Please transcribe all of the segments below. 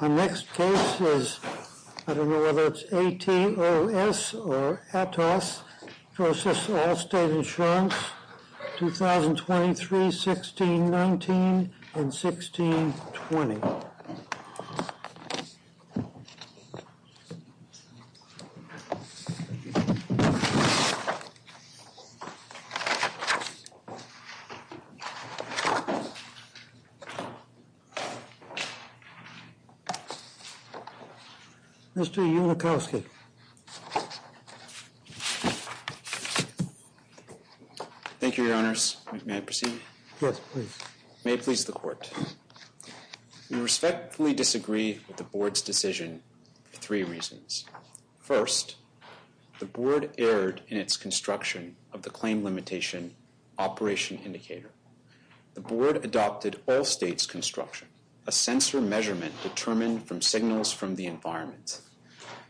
Our next case is, I don't know whether it's A-T-O-S or A-T-O-S, Process Allstate Insurance, 2023-1619 and 1620. Mr. Yulikowsky. Thank you, Your Honors. May I proceed? Yes, please. May it please the Court. We respectfully disagree with the Board's decision for three reasons. First, the Board erred in its construction of the claim limitation operation indicator. The Board adopted Allstate's construction, a sensor measurement determined from signals from the environment.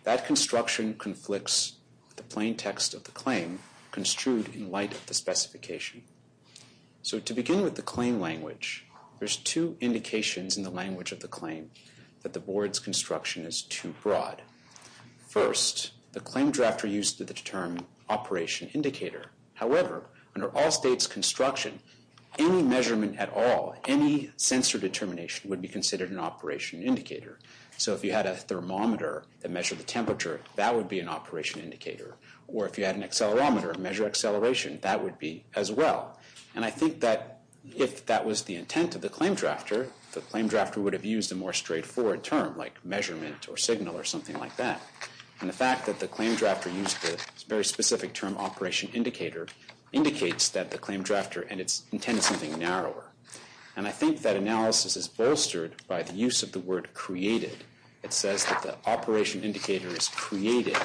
That construction conflicts with the plain text of the claim construed in light of the specification. So to begin with the claim language, there's two indications in the language of the claim that the Board's construction is too broad. First, the claim drafter used the term operation indicator. However, under Allstate's construction, any measurement at all, any sensor determination would be considered an operation indicator. So if you had a thermometer that measured the temperature, that would be an operation indicator. Or if you had an accelerometer that measured acceleration, that would be as well. And I think that if that was the intent of the claim drafter, the claim drafter would have used a more straightforward term like measurement or signal or something like that. And the fact that the claim drafter used the very specific term operation indicator indicates that the claim drafter intended something narrower. And I think that analysis is bolstered by the use of the word created. It says that the operation indicator is created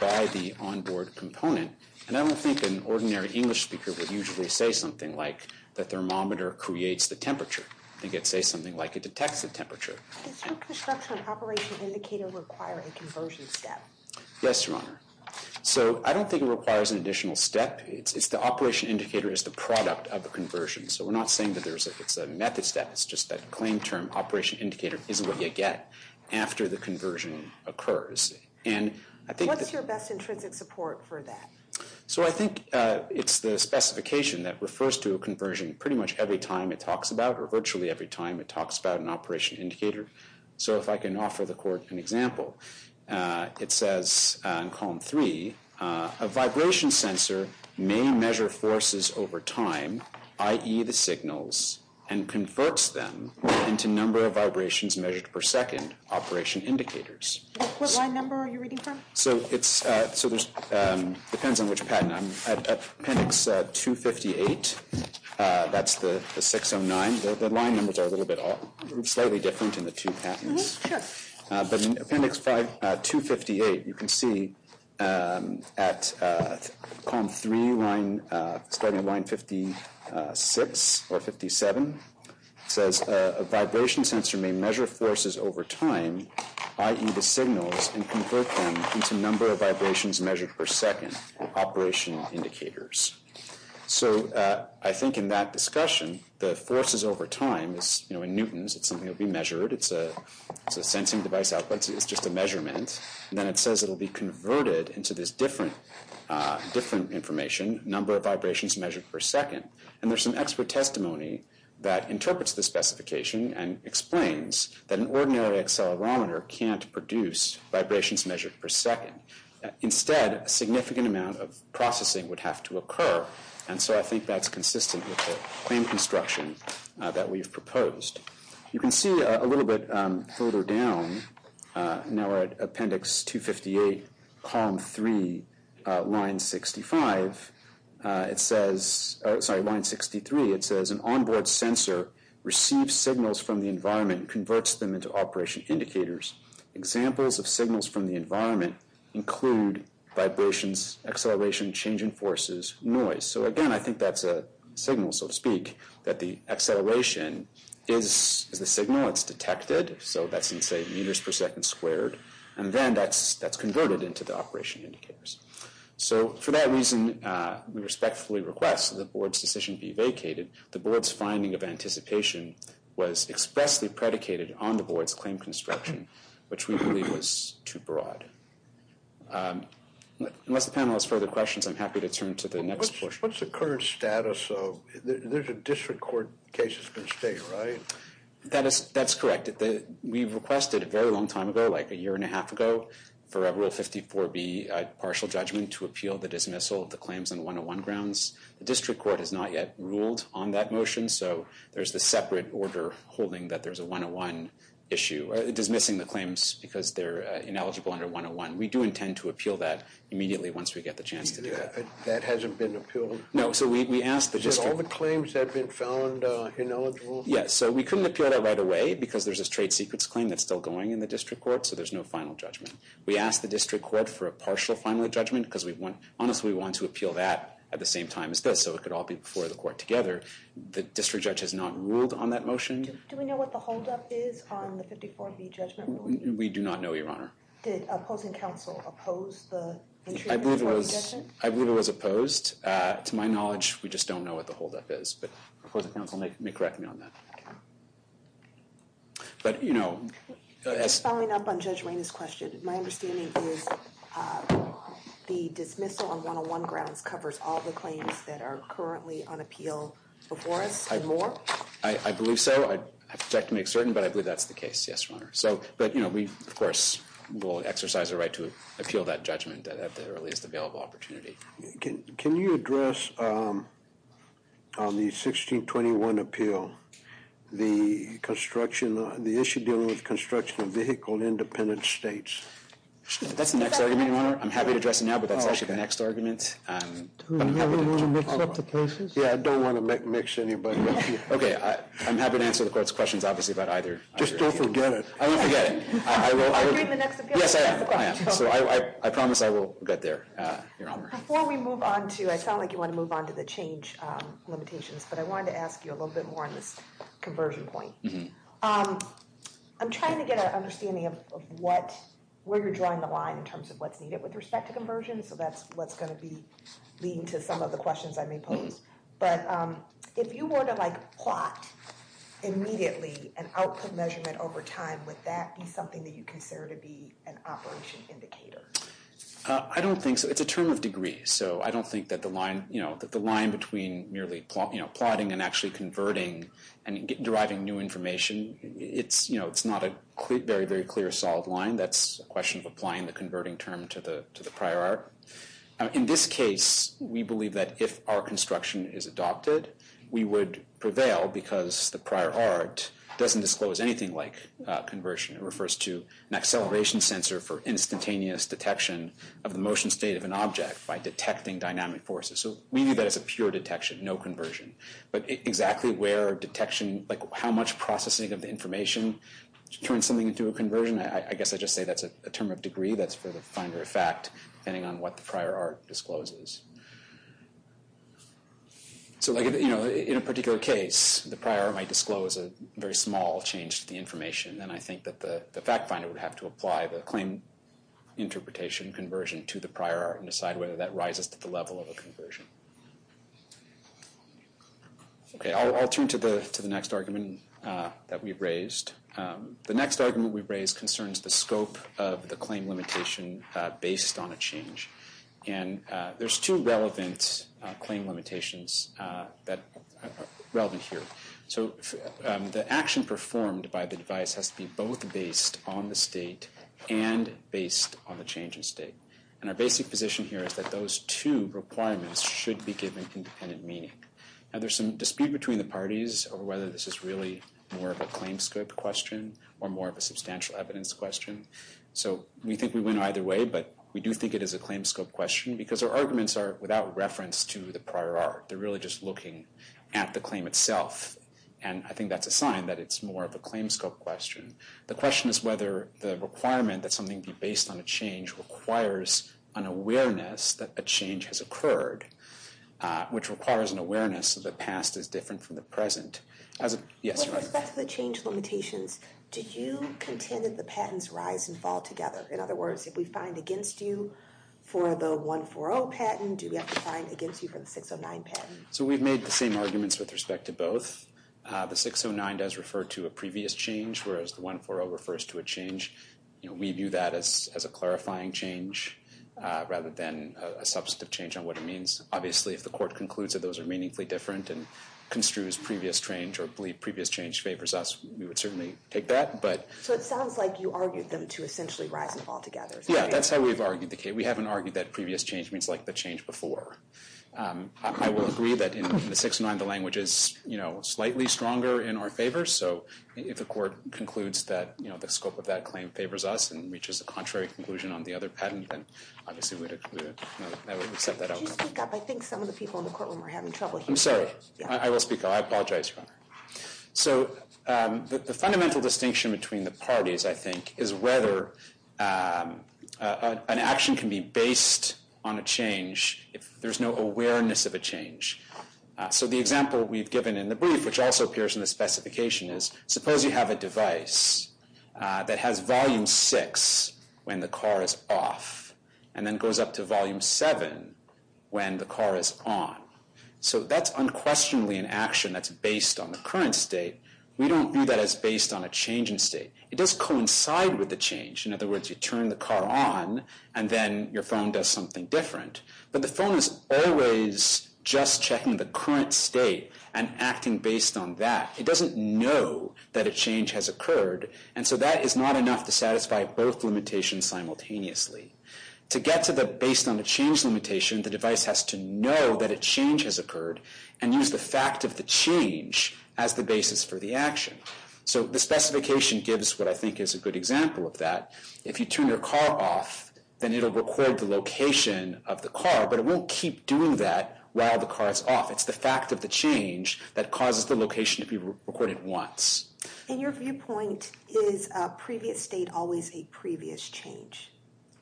by the onboard component. And I don't think an ordinary English speaker would usually say something like the thermometer creates the temperature. I think it would say something like it detects the temperature. Does your construction of operation indicator require a conversion step? Yes, Your Honor. So I don't think it requires an additional step. It's the operation indicator as the product of the conversion. So we're not saying that it's a method step. It's just that claim term operation indicator is what you get after the conversion occurs. What's your best intrinsic support for that? So I think it's the specification that refers to a conversion pretty much every time it talks about or virtually every time it talks about an operation indicator. So if I can offer the Court an example, it says in Column 3, a vibration sensor may measure forces over time, i.e., the signals, and converts them into number of vibrations measured per second, operation indicators. What line number are you reading from? So it depends on which patent. I'm at Appendix 258. That's the 609. The line numbers are a little bit slightly different in the two patents. But in Appendix 258, you can see at Column 3, starting at line 56 or 57, it says a vibration sensor may measure forces over time, i.e., the signals, and convert them into number of vibrations measured per second, operation indicators. So I think in that discussion, the forces over time is in newtons. It's something that will be measured. It's a sensing device output. It's just a measurement. And then it says it will be converted into this different information, number of vibrations measured per second. And there's some expert testimony that interprets the specification and explains that an ordinary accelerometer can't produce vibrations measured per second. Instead, a significant amount of processing would have to occur. And so I think that's consistent with the claim construction that we've proposed. You can see a little bit further down. Now we're at Appendix 258, Column 3, line 63. It says an onboard sensor receives signals from the environment and converts them into operation indicators. Examples of signals from the environment include vibrations, acceleration, change in forces, noise. So again, I think that's a signal, so to speak, that the acceleration is the signal. It's detected. So that's in, say, meters per second squared. And then that's converted into the operation indicators. So for that reason, we respectfully request that the board's decision be vacated. The board's finding of anticipation was expressly predicated on the board's claim construction, which we believe was too broad. Unless the panel has further questions, I'm happy to turn to the next portion. What's the current status of the district court case that's been stated, right? That's correct. We requested a very long time ago, like a year and a half ago, for Rule 54B, partial judgment, to appeal the dismissal of the claims on 101 grounds. The district court has not yet ruled on that motion, so there's the separate order holding that there's a 101 issue, dismissing the claims because they're ineligible under 101. We do intend to appeal that immediately once we get the chance to do that. That hasn't been appealed? No, so we asked the district. Is it all the claims that have been found ineligible? Yes, so we couldn't appeal that right away because there's a trade secrets claim that's still going in the district court, so there's no final judgment. We asked the district court for a partial final judgment because we honestly want to appeal that at the same time as this, so it could all be before the court together. The district judge has not ruled on that motion. Do we know what the holdup is on the 54B judgment ruling? We do not know, Your Honor. Did opposing counsel oppose the interim judgment? I believe it was opposed. To my knowledge, we just don't know what the holdup is, but opposing counsel may correct me on that. Following up on Judge Wayne's question, my understanding is the dismissal on 101 grounds covers all the claims that are currently on appeal before us and more? I believe so. I'd have to check to make certain, but I believe that's the case, yes, Your Honor. But we, of course, will exercise a right to appeal that judgment at the earliest available opportunity. Can you address on the 1621 appeal the issue dealing with construction of vehicle-independent states? That's the next argument, Your Honor. I'm happy to address it now, but that's actually the next argument. Do you want to mix up the places? Yeah, I don't want to mix anybody up. Okay, I'm happy to answer the court's questions, obviously, about either. Just don't forget it. I won't forget it. Are you in the next appeal? Yes, I am. So I promise I will get there, Your Honor. Before we move on to, I sound like you want to move on to the change limitations, but I wanted to ask you a little bit more on this conversion point. I'm trying to get an understanding of where you're drawing the line in terms of what's needed with respect to conversion, so that's what's going to be leading to some of the questions I may pose. But if you were to plot immediately an output measurement over time, would that be something that you consider to be an operation indicator? I don't think so. It's a term of degree, so I don't think that the line between merely plotting and actually converting and deriving new information, it's not a very, very clear, solid line. That's a question of applying the converting term to the prior art. In this case, we believe that if our construction is adopted, we would prevail because the prior art doesn't disclose anything like conversion. It refers to an acceleration sensor for instantaneous detection of the motion state of an object by detecting dynamic forces. So we view that as a pure detection, no conversion. But exactly where detection, like how much processing of the information turns something into a conversion, I guess I just say that's a term of degree. That's for the finder of fact, depending on what the prior art discloses. So, you know, in a particular case, the prior art might disclose a very small change to the information, and I think that the fact finder would have to apply the claim interpretation conversion to the prior art and decide whether that rises to the level of a conversion. Okay, I'll turn to the next argument that we've raised. The next argument we've raised concerns the scope of the claim limitation based on a change. And there's two relevant claim limitations that are relevant here. So the action performed by the device has to be both based on the state and based on the change in state. And our basic position here is that those two requirements should be given independent meaning. Now, there's some dispute between the parties over whether this is really more of a claim scope question or more of a substantial evidence question. So we think we went either way, but we do think it is a claim scope question because our arguments are without reference to the prior art. They're really just looking at the claim itself. And I think that's a sign that it's more of a claim scope question. The question is whether the requirement that something be based on a change requires an awareness that a change has occurred, which requires an awareness that the past is different from the present. With respect to the change limitations, do you contend that the patents rise and fall together? In other words, if we find against you for the 140 patent, do we have to find against you for the 609 patent? So we've made the same arguments with respect to both. The 609 does refer to a previous change, whereas the 140 refers to a change. We view that as a clarifying change rather than a substantive change on what it means. Obviously, if the court concludes that those are meaningfully different and construes previous change or believe previous change favors us, we would certainly take that. So it sounds like you argued them to essentially rise and fall together. Yeah, that's how we've argued the case. We haven't argued that previous change means like the change before. I will agree that in the 609, the language is slightly stronger in our favor. So if the court concludes that the scope of that claim favors us and reaches a contrary conclusion on the other patent, then obviously we would accept that outcome. Could you speak up? I think some of the people in the courtroom are having trouble hearing. I'm sorry. I will speak up. I apologize, Your Honor. So the fundamental distinction between the parties, I think, is whether an action can be based on a change if there's no awareness of a change. So the example we've given in the brief, which also appears in the specification, is suppose you have a device that has volume six when the car is off and then goes up to volume seven when the car is on. So that's unquestionably an action that's based on the current state. We don't view that as based on a change in state. It does coincide with the change. In other words, you turn the car on and then your phone does something different. But the phone is always just checking the current state and acting based on that. It doesn't know that a change has occurred, and so that is not enough to satisfy both limitations simultaneously. To get to the based on a change limitation, the device has to know that a change has occurred and use the fact of the change as the basis for the action. So the specification gives what I think is a good example of that. If you turn your car off, then it will record the location of the car, but it won't keep doing that while the car is off. It's the fact of the change that causes the location to be recorded once. And your viewpoint, is a previous state always a previous change?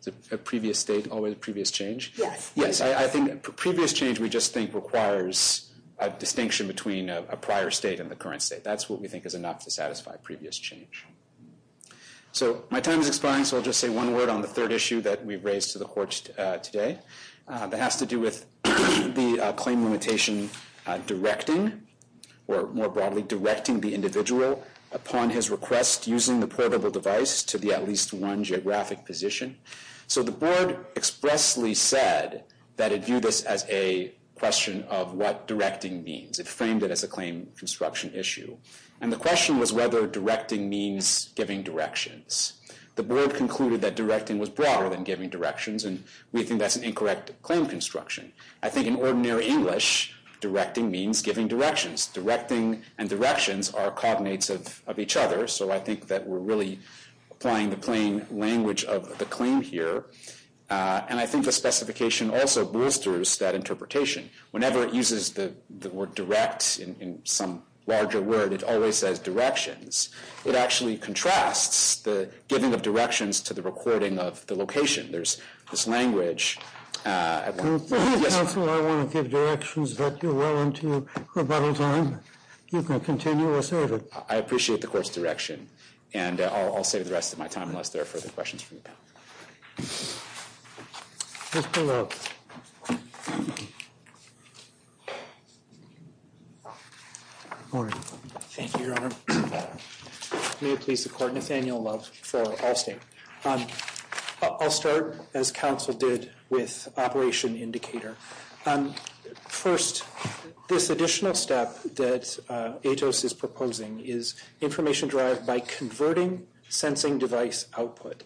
Is a previous state always a previous change? Yes. Yes, I think a previous change we just think requires a distinction between a prior state and the current state. That's what we think is enough to satisfy a previous change. So my time is expiring, so I'll just say one word on the third issue that we've raised to the court today. That has to do with the claim limitation directing, or more broadly directing the individual upon his request using the portable device to the at least one geographic position. So the board expressly said that it viewed this as a question of what directing means. It framed it as a claim construction issue. And the question was whether directing means giving directions. The board concluded that directing was broader than giving directions, and we think that's an incorrect claim construction. I think in ordinary English, directing means giving directions. Directing and directions are cognates of each other, so I think that we're really applying the plain language of the claim here. And I think the specification also boosters that interpretation. Whenever it uses the word direct in some larger word, it always says directions. It actually contrasts the giving of directions to the recording of the location. There's this language. Counsel, I want to give directions that you're well into rebuttal time. You can continue or save it. I appreciate the court's direction, and I'll save the rest of my time unless there are further questions from the panel. Mr. Love. Thank you, Your Honor. May it please the court, Nathaniel Love for Allstate. I'll start, as counsel did, with operation indicator. First, this additional step that ATOS is proposing is information derived by converting sensing device output.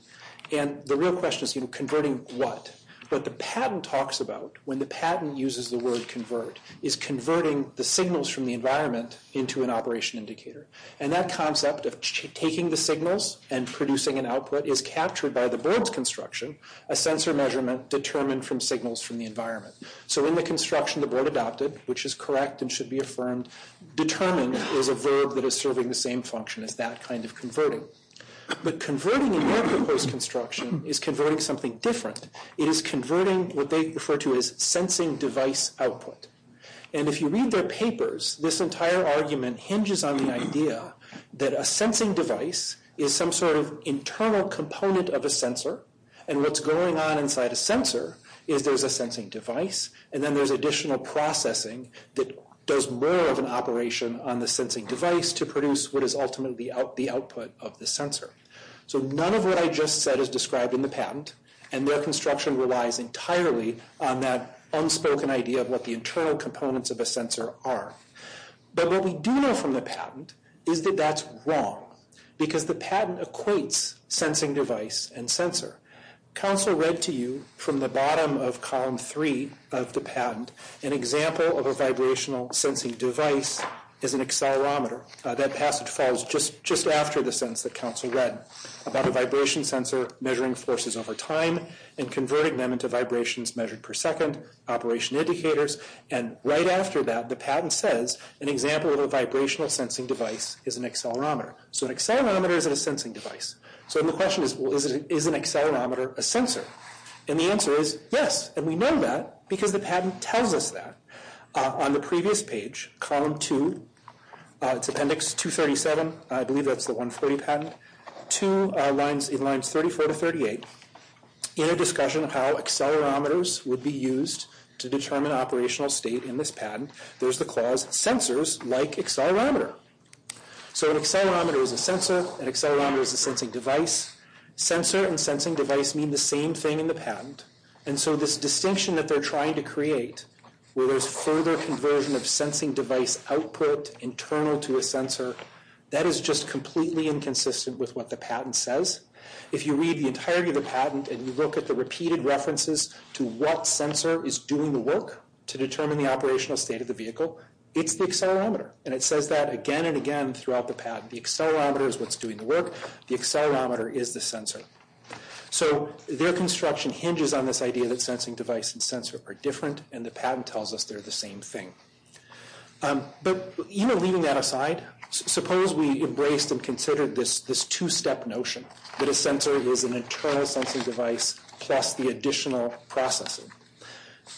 And the real question is converting what? What the patent talks about, when the patent uses the word convert, is converting the signals from the environment into an operation indicator. And that concept of taking the signals and producing an output is captured by the board's construction, a sensor measurement determined from signals from the environment. So in the construction the board adopted, which is correct and should be affirmed, determined is a verb that is serving the same function as that kind of converting. But converting in your proposed construction is converting something different. It is converting what they refer to as sensing device output. And if you read their papers, this entire argument hinges on the idea that a sensing device is some sort of internal component of a sensor, and what's going on inside a sensor is there's a sensing device, and then there's additional processing that does more of an operation on the sensing device to produce what is ultimately the output of the sensor. So none of what I just said is described in the patent, and their construction relies entirely on that unspoken idea of what the internal components of a sensor are. But what we do know from the patent is that that's wrong, because the patent equates sensing device and sensor. Counsel read to you from the bottom of column three of the patent an example of a vibrational sensing device as an accelerometer. That passage falls just after the sentence that counsel read about a vibration sensor measuring forces over time and converting them into vibrations measured per second, operation indicators, and right after that the patent says an example of a vibrational sensing device is an accelerometer. So an accelerometer is a sensing device. So the question is, is an accelerometer a sensor? And the answer is yes, and we know that because the patent tells us that. On the previous page, column two, it's appendix 237, I believe that's the 140 patent, to lines 34 to 38 in a discussion of how accelerometers would be used to determine operational state in this patent. There's the clause, sensors like accelerometer. So an accelerometer is a sensor. An accelerometer is a sensing device. Sensor and sensing device mean the same thing in the patent. And so this distinction that they're trying to create, where there's further conversion of sensing device output internal to a sensor, that is just completely inconsistent with what the patent says. If you read the entirety of the patent and you look at the repeated references to what sensor is doing the work to determine the operational state of the vehicle, it's the accelerometer. And it says that again and again throughout the patent. The accelerometer is what's doing the work. The accelerometer is the sensor. So their construction hinges on this idea that sensing device and sensor are different, and the patent tells us they're the same thing. But even leaving that aside, suppose we embraced and considered this two-step notion, that a sensor is an internal sensing device plus the additional processing.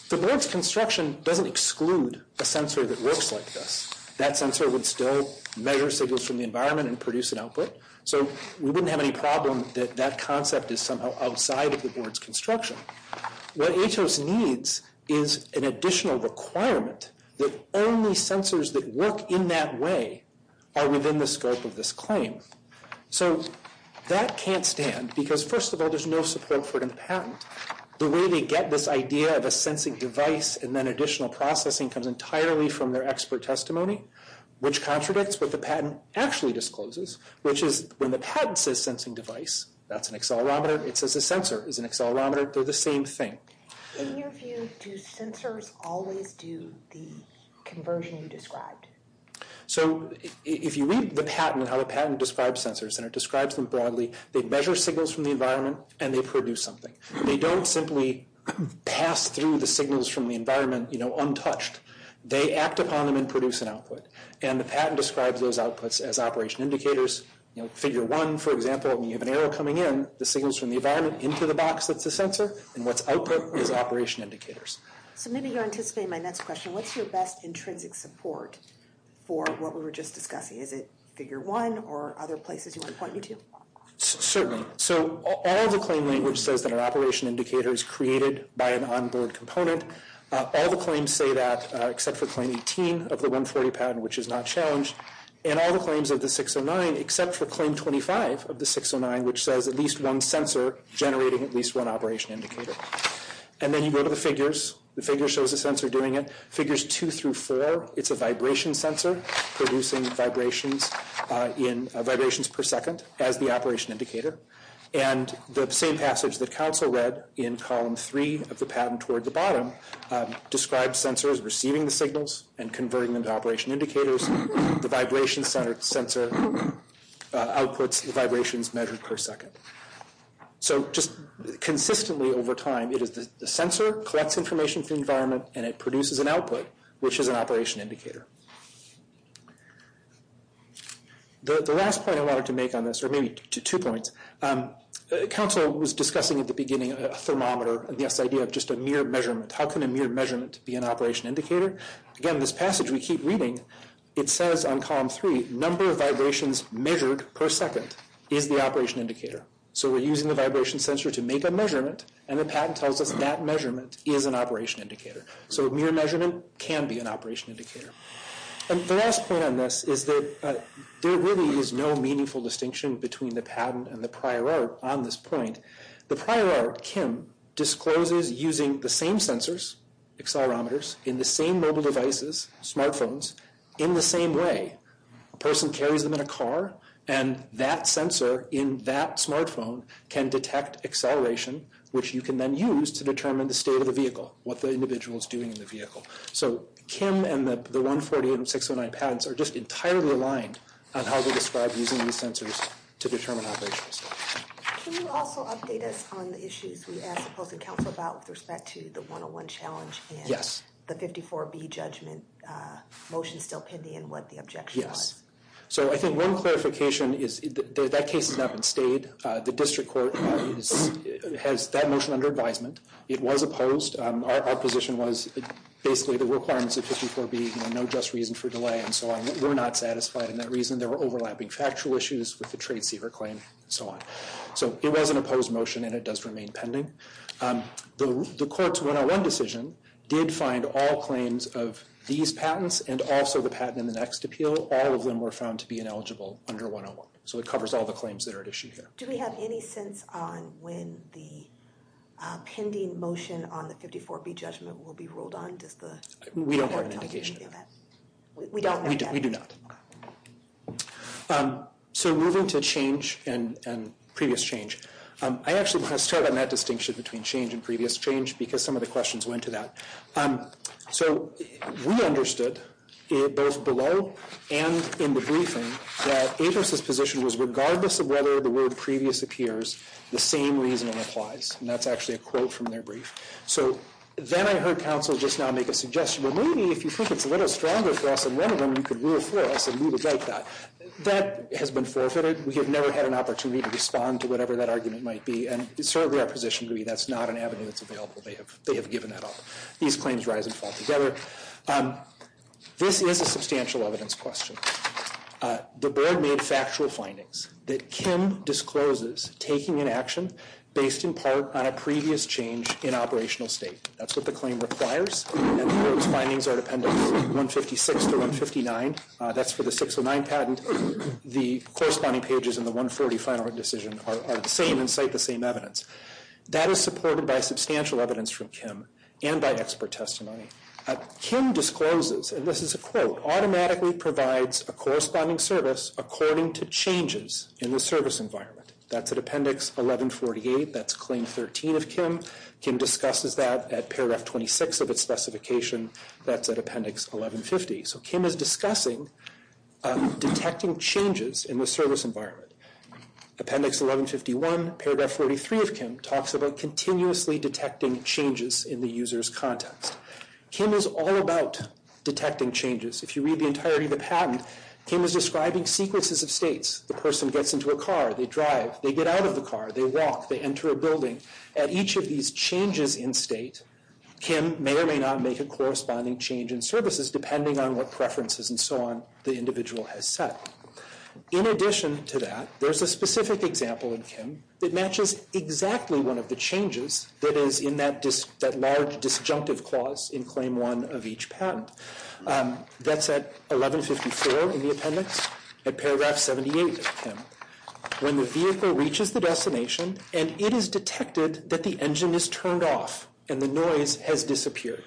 The board's construction doesn't exclude a sensor that works like this. That sensor would still measure signals from the environment and produce an output. So we wouldn't have any problem that that concept is somehow outside of the board's construction. What ATOS needs is an additional requirement that only sensors that work in that way are within the scope of this claim. So that can't stand because, first of all, there's no support for it in the patent. The way they get this idea of a sensing device and then additional processing comes entirely from their expert testimony, which contradicts what the patent actually discloses, which is when the patent says sensing device, that's an accelerometer. It says a sensor is an accelerometer. They're the same thing. In your view, do sensors always do the conversion you described? So if you read the patent and how the patent describes sensors, and it describes them broadly, they measure signals from the environment and they produce something. They don't simply pass through the signals from the environment untouched. They act upon them and produce an output. And the patent describes those outputs as operation indicators. Figure one, for example, when you have an arrow coming in, the signals from the environment into the box that's the sensor, and what's output is operation indicators. So maybe you're anticipating my next question. What's your best intrinsic support for what we were just discussing? Is it figure one or other places you want to point me to? Certainly. So all the claim language says that our operation indicator is created by an on-board component. All the claims say that, except for claim 18 of the 140 patent, which is not challenged. And all the claims of the 609, except for claim 25 of the 609, which says at least one sensor generating at least one operation indicator. And then you go to the figures. The figure shows the sensor doing it. Figures two through four, it's a vibration sensor producing vibrations per second as the operation indicator. And the same passage that counsel read in column three of the patent toward the bottom describes sensors receiving the signals and converting them to operation indicators. The vibration sensor outputs the vibrations measured per second. So just consistently over time, the sensor collects information from the environment and it produces an output, which is an operation indicator. The last point I wanted to make on this, or maybe two points, counsel was discussing at the beginning a thermometer and this idea of just a mere measurement. How can a mere measurement be an operation indicator? Again, this passage we keep reading, it says on column three, number of vibrations measured per second is the operation indicator. So we're using the vibration sensor to make a measurement, and the patent tells us that measurement is an operation indicator. So a mere measurement can be an operation indicator. The last point on this is that there really is no meaningful distinction between the patent and the prior art on this point. The prior art, Kim, discloses using the same sensors, accelerometers, in the same mobile devices, smartphones, in the same way. A person carries them in a car, and that sensor in that smartphone can detect acceleration, which you can then use to determine the state of the vehicle, what the individual is doing in the vehicle. So Kim and the 148 and 609 patents are just entirely aligned on how they describe using these sensors to determine operations. Can you also update us on the issues we asked opposing counsel about with respect to the 101 challenge and the 54B judgment motion still pending and what the objection was? Yes. So I think one clarification is that case has not been stayed. The district court has that motion under advisement. It was opposed. Our position was basically the requirements of 54B, no just reason for delay, and so on. We're not satisfied in that reason. There were overlapping factual issues with the trade cedar claim and so on. So it was an opposed motion, and it does remain pending. The court's 101 decision did find all claims of these patents and also the patent in the next appeal, all of them were found to be ineligible under 101. So it covers all the claims that are at issue here. Do we have any sense on when the pending motion on the 54B judgment will be ruled on? We don't have an indication of that. We don't? We do not. So moving to change and previous change. I actually want to start on that distinction between change and previous change because some of the questions went to that. So we understood, both below and in the briefing, that Abrams's position was regardless of whether the word previous appears, the same reasoning applies. And that's actually a quote from their brief. So then I heard counsel just now make a suggestion that maybe if you think it's a little stronger for us than one of them, you could rule for us and we would like that. That has been forfeited. We have never had an opportunity to respond to whatever that argument might be, and certainly our position would be that's not an avenue that's available. They have given that up. These claims rise and fall together. This is a substantial evidence question. The board made factual findings that Kim discloses taking an action based in part on a previous change in operational state. That's what the claim requires, and the board's findings are dependent on 156 to 159. That's for the 609 patent. The corresponding pages in the 140 final decision are the same and cite the same evidence. That is supported by substantial evidence from Kim and by expert testimony. Kim discloses, and this is a quote, automatically provides a corresponding service according to changes in the service environment. That's at Appendix 1148. That's Claim 13 of Kim. Kim discusses that at Paragraph 26 of its specification. That's at Appendix 1150. So Kim is discussing detecting changes in the service environment. Appendix 1151, Paragraph 43 of Kim, talks about continuously detecting changes in the user's context. Kim is all about detecting changes. If you read the entirety of the patent, Kim is describing sequences of states. The person gets into a car. They drive. They get out of the car. They walk. They enter a building. At each of these changes in state, Kim may or may not make a corresponding change in services depending on what preferences and so on the individual has set. In addition to that, there's a specific example in Kim that matches exactly one of the changes that is in that large disjunctive clause in Claim 1 of each patent. That's at 1154 in the appendix, at Paragraph 78 of Kim, when the vehicle reaches the destination and it is detected that the engine is turned off and the noise has disappeared.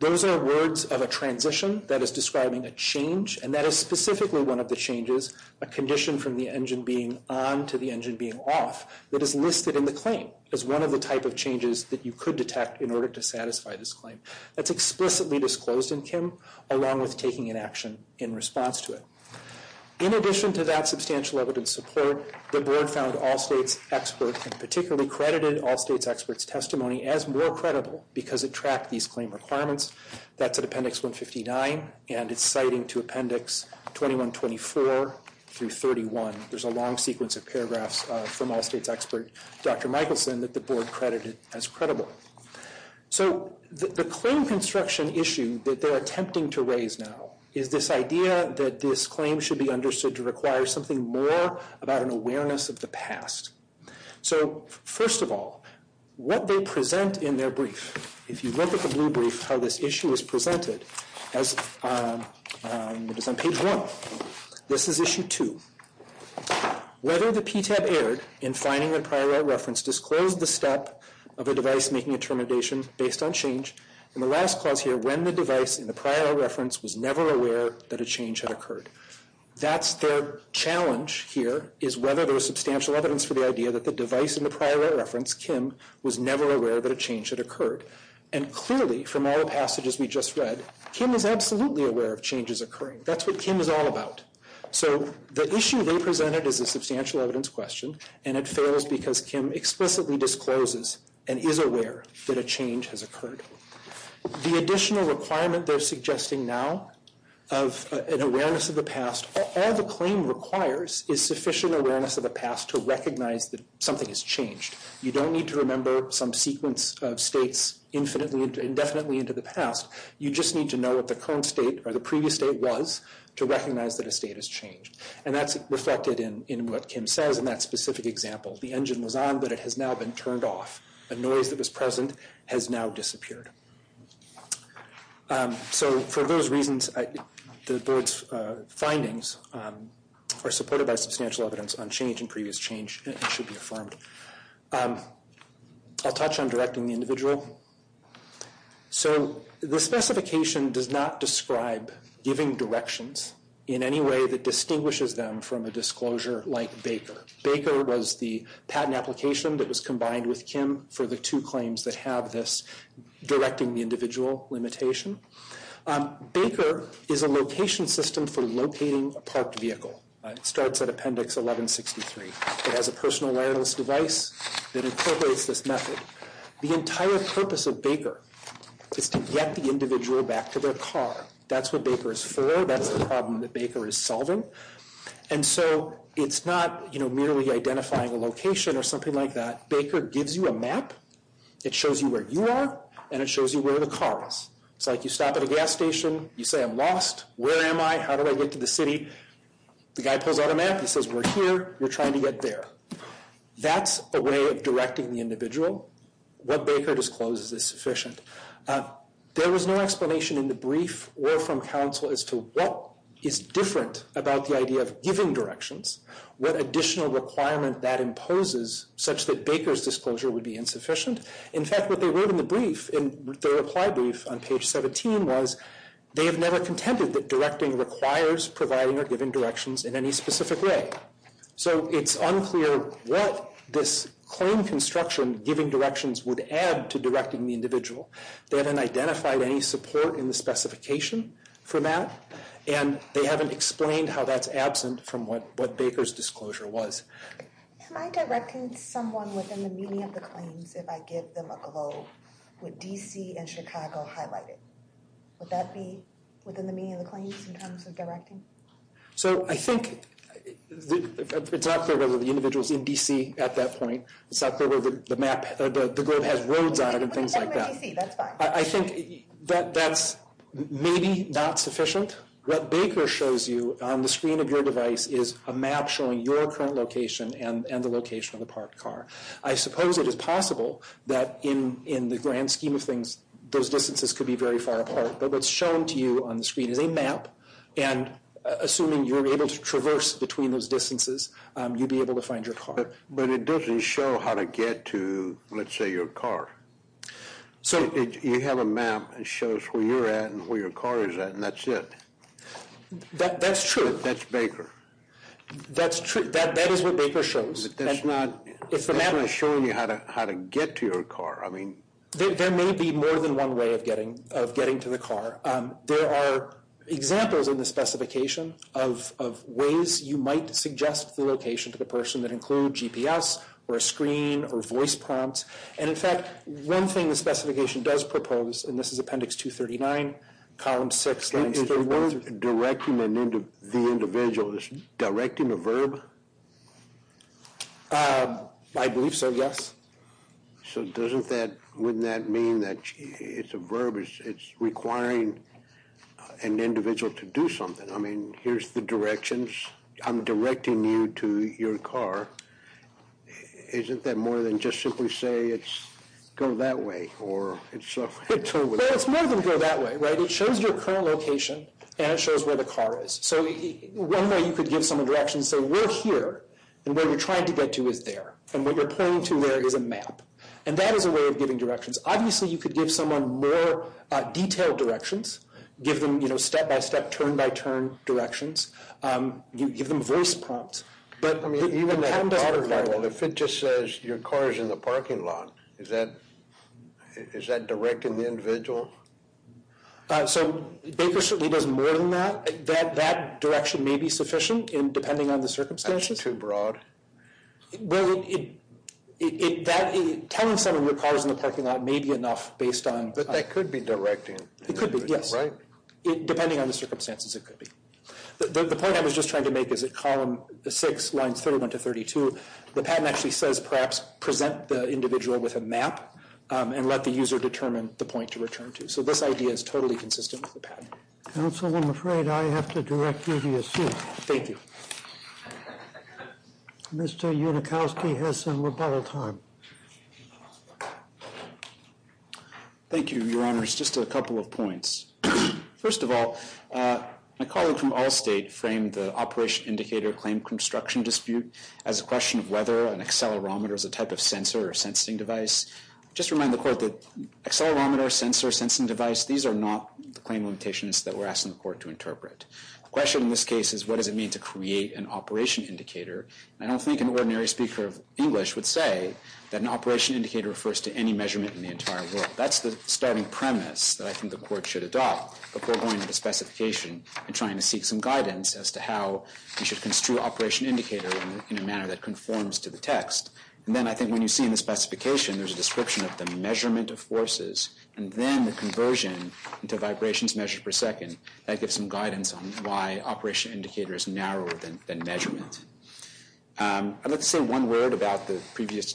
Those are words of a transition that is describing a change, and that is specifically one of the changes, a condition from the engine being on to the engine being off, that is listed in the claim as one of the type of changes that you could detect in order to satisfy this claim. That's explicitly disclosed in Kim, along with taking an action in response to it. In addition to that substantial evidence support, the board found all states expert and particularly credited all states experts' testimony as more credible because it tracked these claim requirements. That's at Appendix 159, and it's citing to Appendix 2124 through 31. There's a long sequence of paragraphs from all states expert, Dr. Michelson, that the board credited as credible. So the claim construction issue that they're attempting to raise now is this idea that this claim should be understood to require something more about an awareness of the past. So first of all, what they present in their brief, if you look at the blue brief, how this issue is presented, it is on Page 1. This is Issue 2. Whether the PTAB erred in finding that a prior right reference disclosed the step of a device making a termination based on change, and the last clause here, when the device in the prior right reference was never aware that a change had occurred. That's their challenge here, is whether there was substantial evidence for the idea that the device in the prior right reference, Kim, was never aware that a change had occurred. And clearly, from all the passages we just read, Kim is absolutely aware of changes occurring. That's what Kim is all about. So the issue they presented is a substantial evidence question, and it fails because Kim explicitly discloses and is aware that a change has occurred. The additional requirement they're suggesting now of an awareness of the past, all the claim requires is sufficient awareness of the past to recognize that something has changed. You don't need to remember some sequence of states indefinitely into the past. You just need to know what the current state or the previous state was to recognize that a state has changed. And that's reflected in what Kim says in that specific example. The engine was on, but it has now been turned off. The noise that was present has now disappeared. So for those reasons, the board's findings are supported by substantial evidence on change and previous change, and it should be affirmed. I'll touch on directing the individual. So the specification does not describe giving directions in any way that distinguishes them from a disclosure like Baker. Baker was the patent application that was combined with Kim for the two claims that have this directing the individual limitation. Baker is a location system for locating a parked vehicle. It starts at Appendix 1163. It has a personal wireless device that incorporates this method. The entire purpose of Baker is to get the individual back to their car. That's what Baker is for. That's the problem that Baker is solving. And so it's not merely identifying a location or something like that. Baker gives you a map. It shows you where you are, and it shows you where the car is. It's like you stop at a gas station. You say, I'm lost. Where am I? How do I get to the city? The guy pulls out a map. He says, we're here. We're trying to get there. That's a way of directing the individual. What Baker discloses is sufficient. There was no explanation in the brief or from counsel as to what is different about the idea of giving directions, what additional requirement that imposes such that Baker's disclosure would be insufficient. In fact, what they wrote in the brief, in their reply brief on page 17, was they have never contended that directing requires providing or giving directions in any specific way. So it's unclear what this claim construction giving directions would add to directing the individual. They haven't identified any support in the specification for that, and they haven't explained how that's absent from what Baker's disclosure was. Am I directing someone within the meaning of the claims if I give them a globe with D.C. and Chicago highlighted? Would that be within the meaning of the claims in terms of directing? So I think it's not clear whether the individual's in D.C. at that point. It's not clear whether the globe has roads on it and things like that. I think that's maybe not sufficient. What Baker shows you on the screen of your device is a map showing your current location and the location of the parked car. I suppose it is possible that in the grand scheme of things, those distances could be very far apart. But what's shown to you on the screen is a map, and assuming you're able to traverse between those distances, you'd be able to find your car. But it doesn't show how to get to, let's say, your car. You have a map that shows where you're at and where your car is at, and that's it. That's true. That's Baker. That is what Baker shows. But that's not showing you how to get to your car. There may be more than one way of getting to the car. There are examples in the specification of ways you might suggest the location to the person that include GPS or a screen or voice prompts. And, in fact, one thing the specification does propose, and this is Appendix 239, Column 6. Is the word directing the individual, is directing a verb? I believe so, yes. So wouldn't that mean that it's a verb? It's requiring an individual to do something. I mean, here's the directions. I'm directing you to your car. Isn't that more than just simply say go that way? Well, it's more than go that way. It shows your current location, and it shows where the car is. So one way you could give someone directions, say we're here, and where you're trying to get to is there, and what you're pointing to there is a map. And that is a way of giving directions. Obviously, you could give someone more detailed directions, give them step-by-step, turn-by-turn directions, give them voice prompts. But even that doesn't require that. Well, if it just says your car is in the parking lot, is that directing the individual? So Baker certainly does more than that. That direction may be sufficient, depending on the circumstances. That's too broad. Telling someone your car is in the parking lot may be enough based on— But that could be directing. It could be, yes. Depending on the circumstances, it could be. The point I was just trying to make is that Column 6, Lines 31 to 32, the patent actually says perhaps present the individual with a map and let the user determine the point to return to. So this idea is totally consistent with the patent. Counsel, I'm afraid I have to direct you to your seat. Thank you. Mr. Unikowski has some rebuttal time. Thank you, Your Honors. Just a couple of points. First of all, my colleague from Allstate framed the operation indicator claim construction dispute as a question of whether an accelerometer is a type of sensor or sensing device. Just to remind the Court that accelerometer, sensor, sensing device, these are not the claim limitations that we're asking the Court to interpret. The question in this case is what does it mean to create an operation indicator. I don't think an ordinary speaker of English would say that an operation indicator refers to any measurement in the entire world. That's the starting premise that I think the Court should adopt before going into specification and trying to seek some guidance as to how you should construe an operation indicator in a manner that conforms to the text. And then I think when you see in the specification, there's a description of the measurement of forces and then the conversion into vibrations measured per second. That gives some guidance on why operation indicator is narrower than measurement. I'd like to say one word about the previous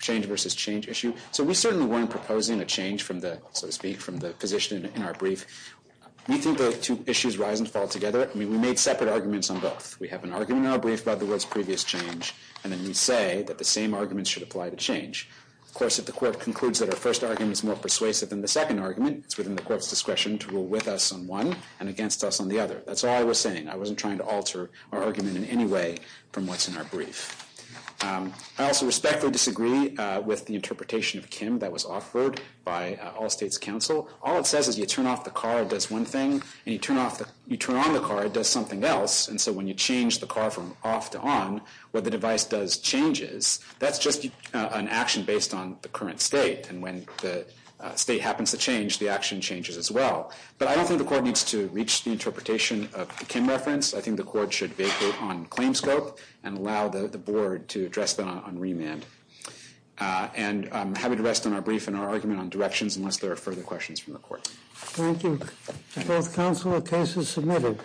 change versus change issue. So we certainly weren't proposing a change, so to speak, from the position in our brief. We think the two issues rise and fall together. I mean, we made separate arguments on both. We have an argument in our brief about the world's previous change, and then we say that the same arguments should apply to change. Of course, if the Court concludes that our first argument is more persuasive than the second argument, it's within the Court's discretion to rule with us on one and against us on the other. That's all I was saying. I wasn't trying to alter our argument in any way from what's in our brief. I also respect or disagree with the interpretation of Kim that was offered by all states' counsel. All it says is you turn off the car, it does one thing, and you turn on the car, it does something else. And so when you change the car from off to on, what the device does changes. That's just an action based on the current state. And when the state happens to change, the action changes as well. But I don't think the Court needs to reach the interpretation of the Kim reference. I think the Court should vacate on claim scope and allow the Board to address that on remand. And I'm happy to rest on our brief and our argument on directions unless there are further questions from the Court. Thank you. Both counsel, the case is submitted.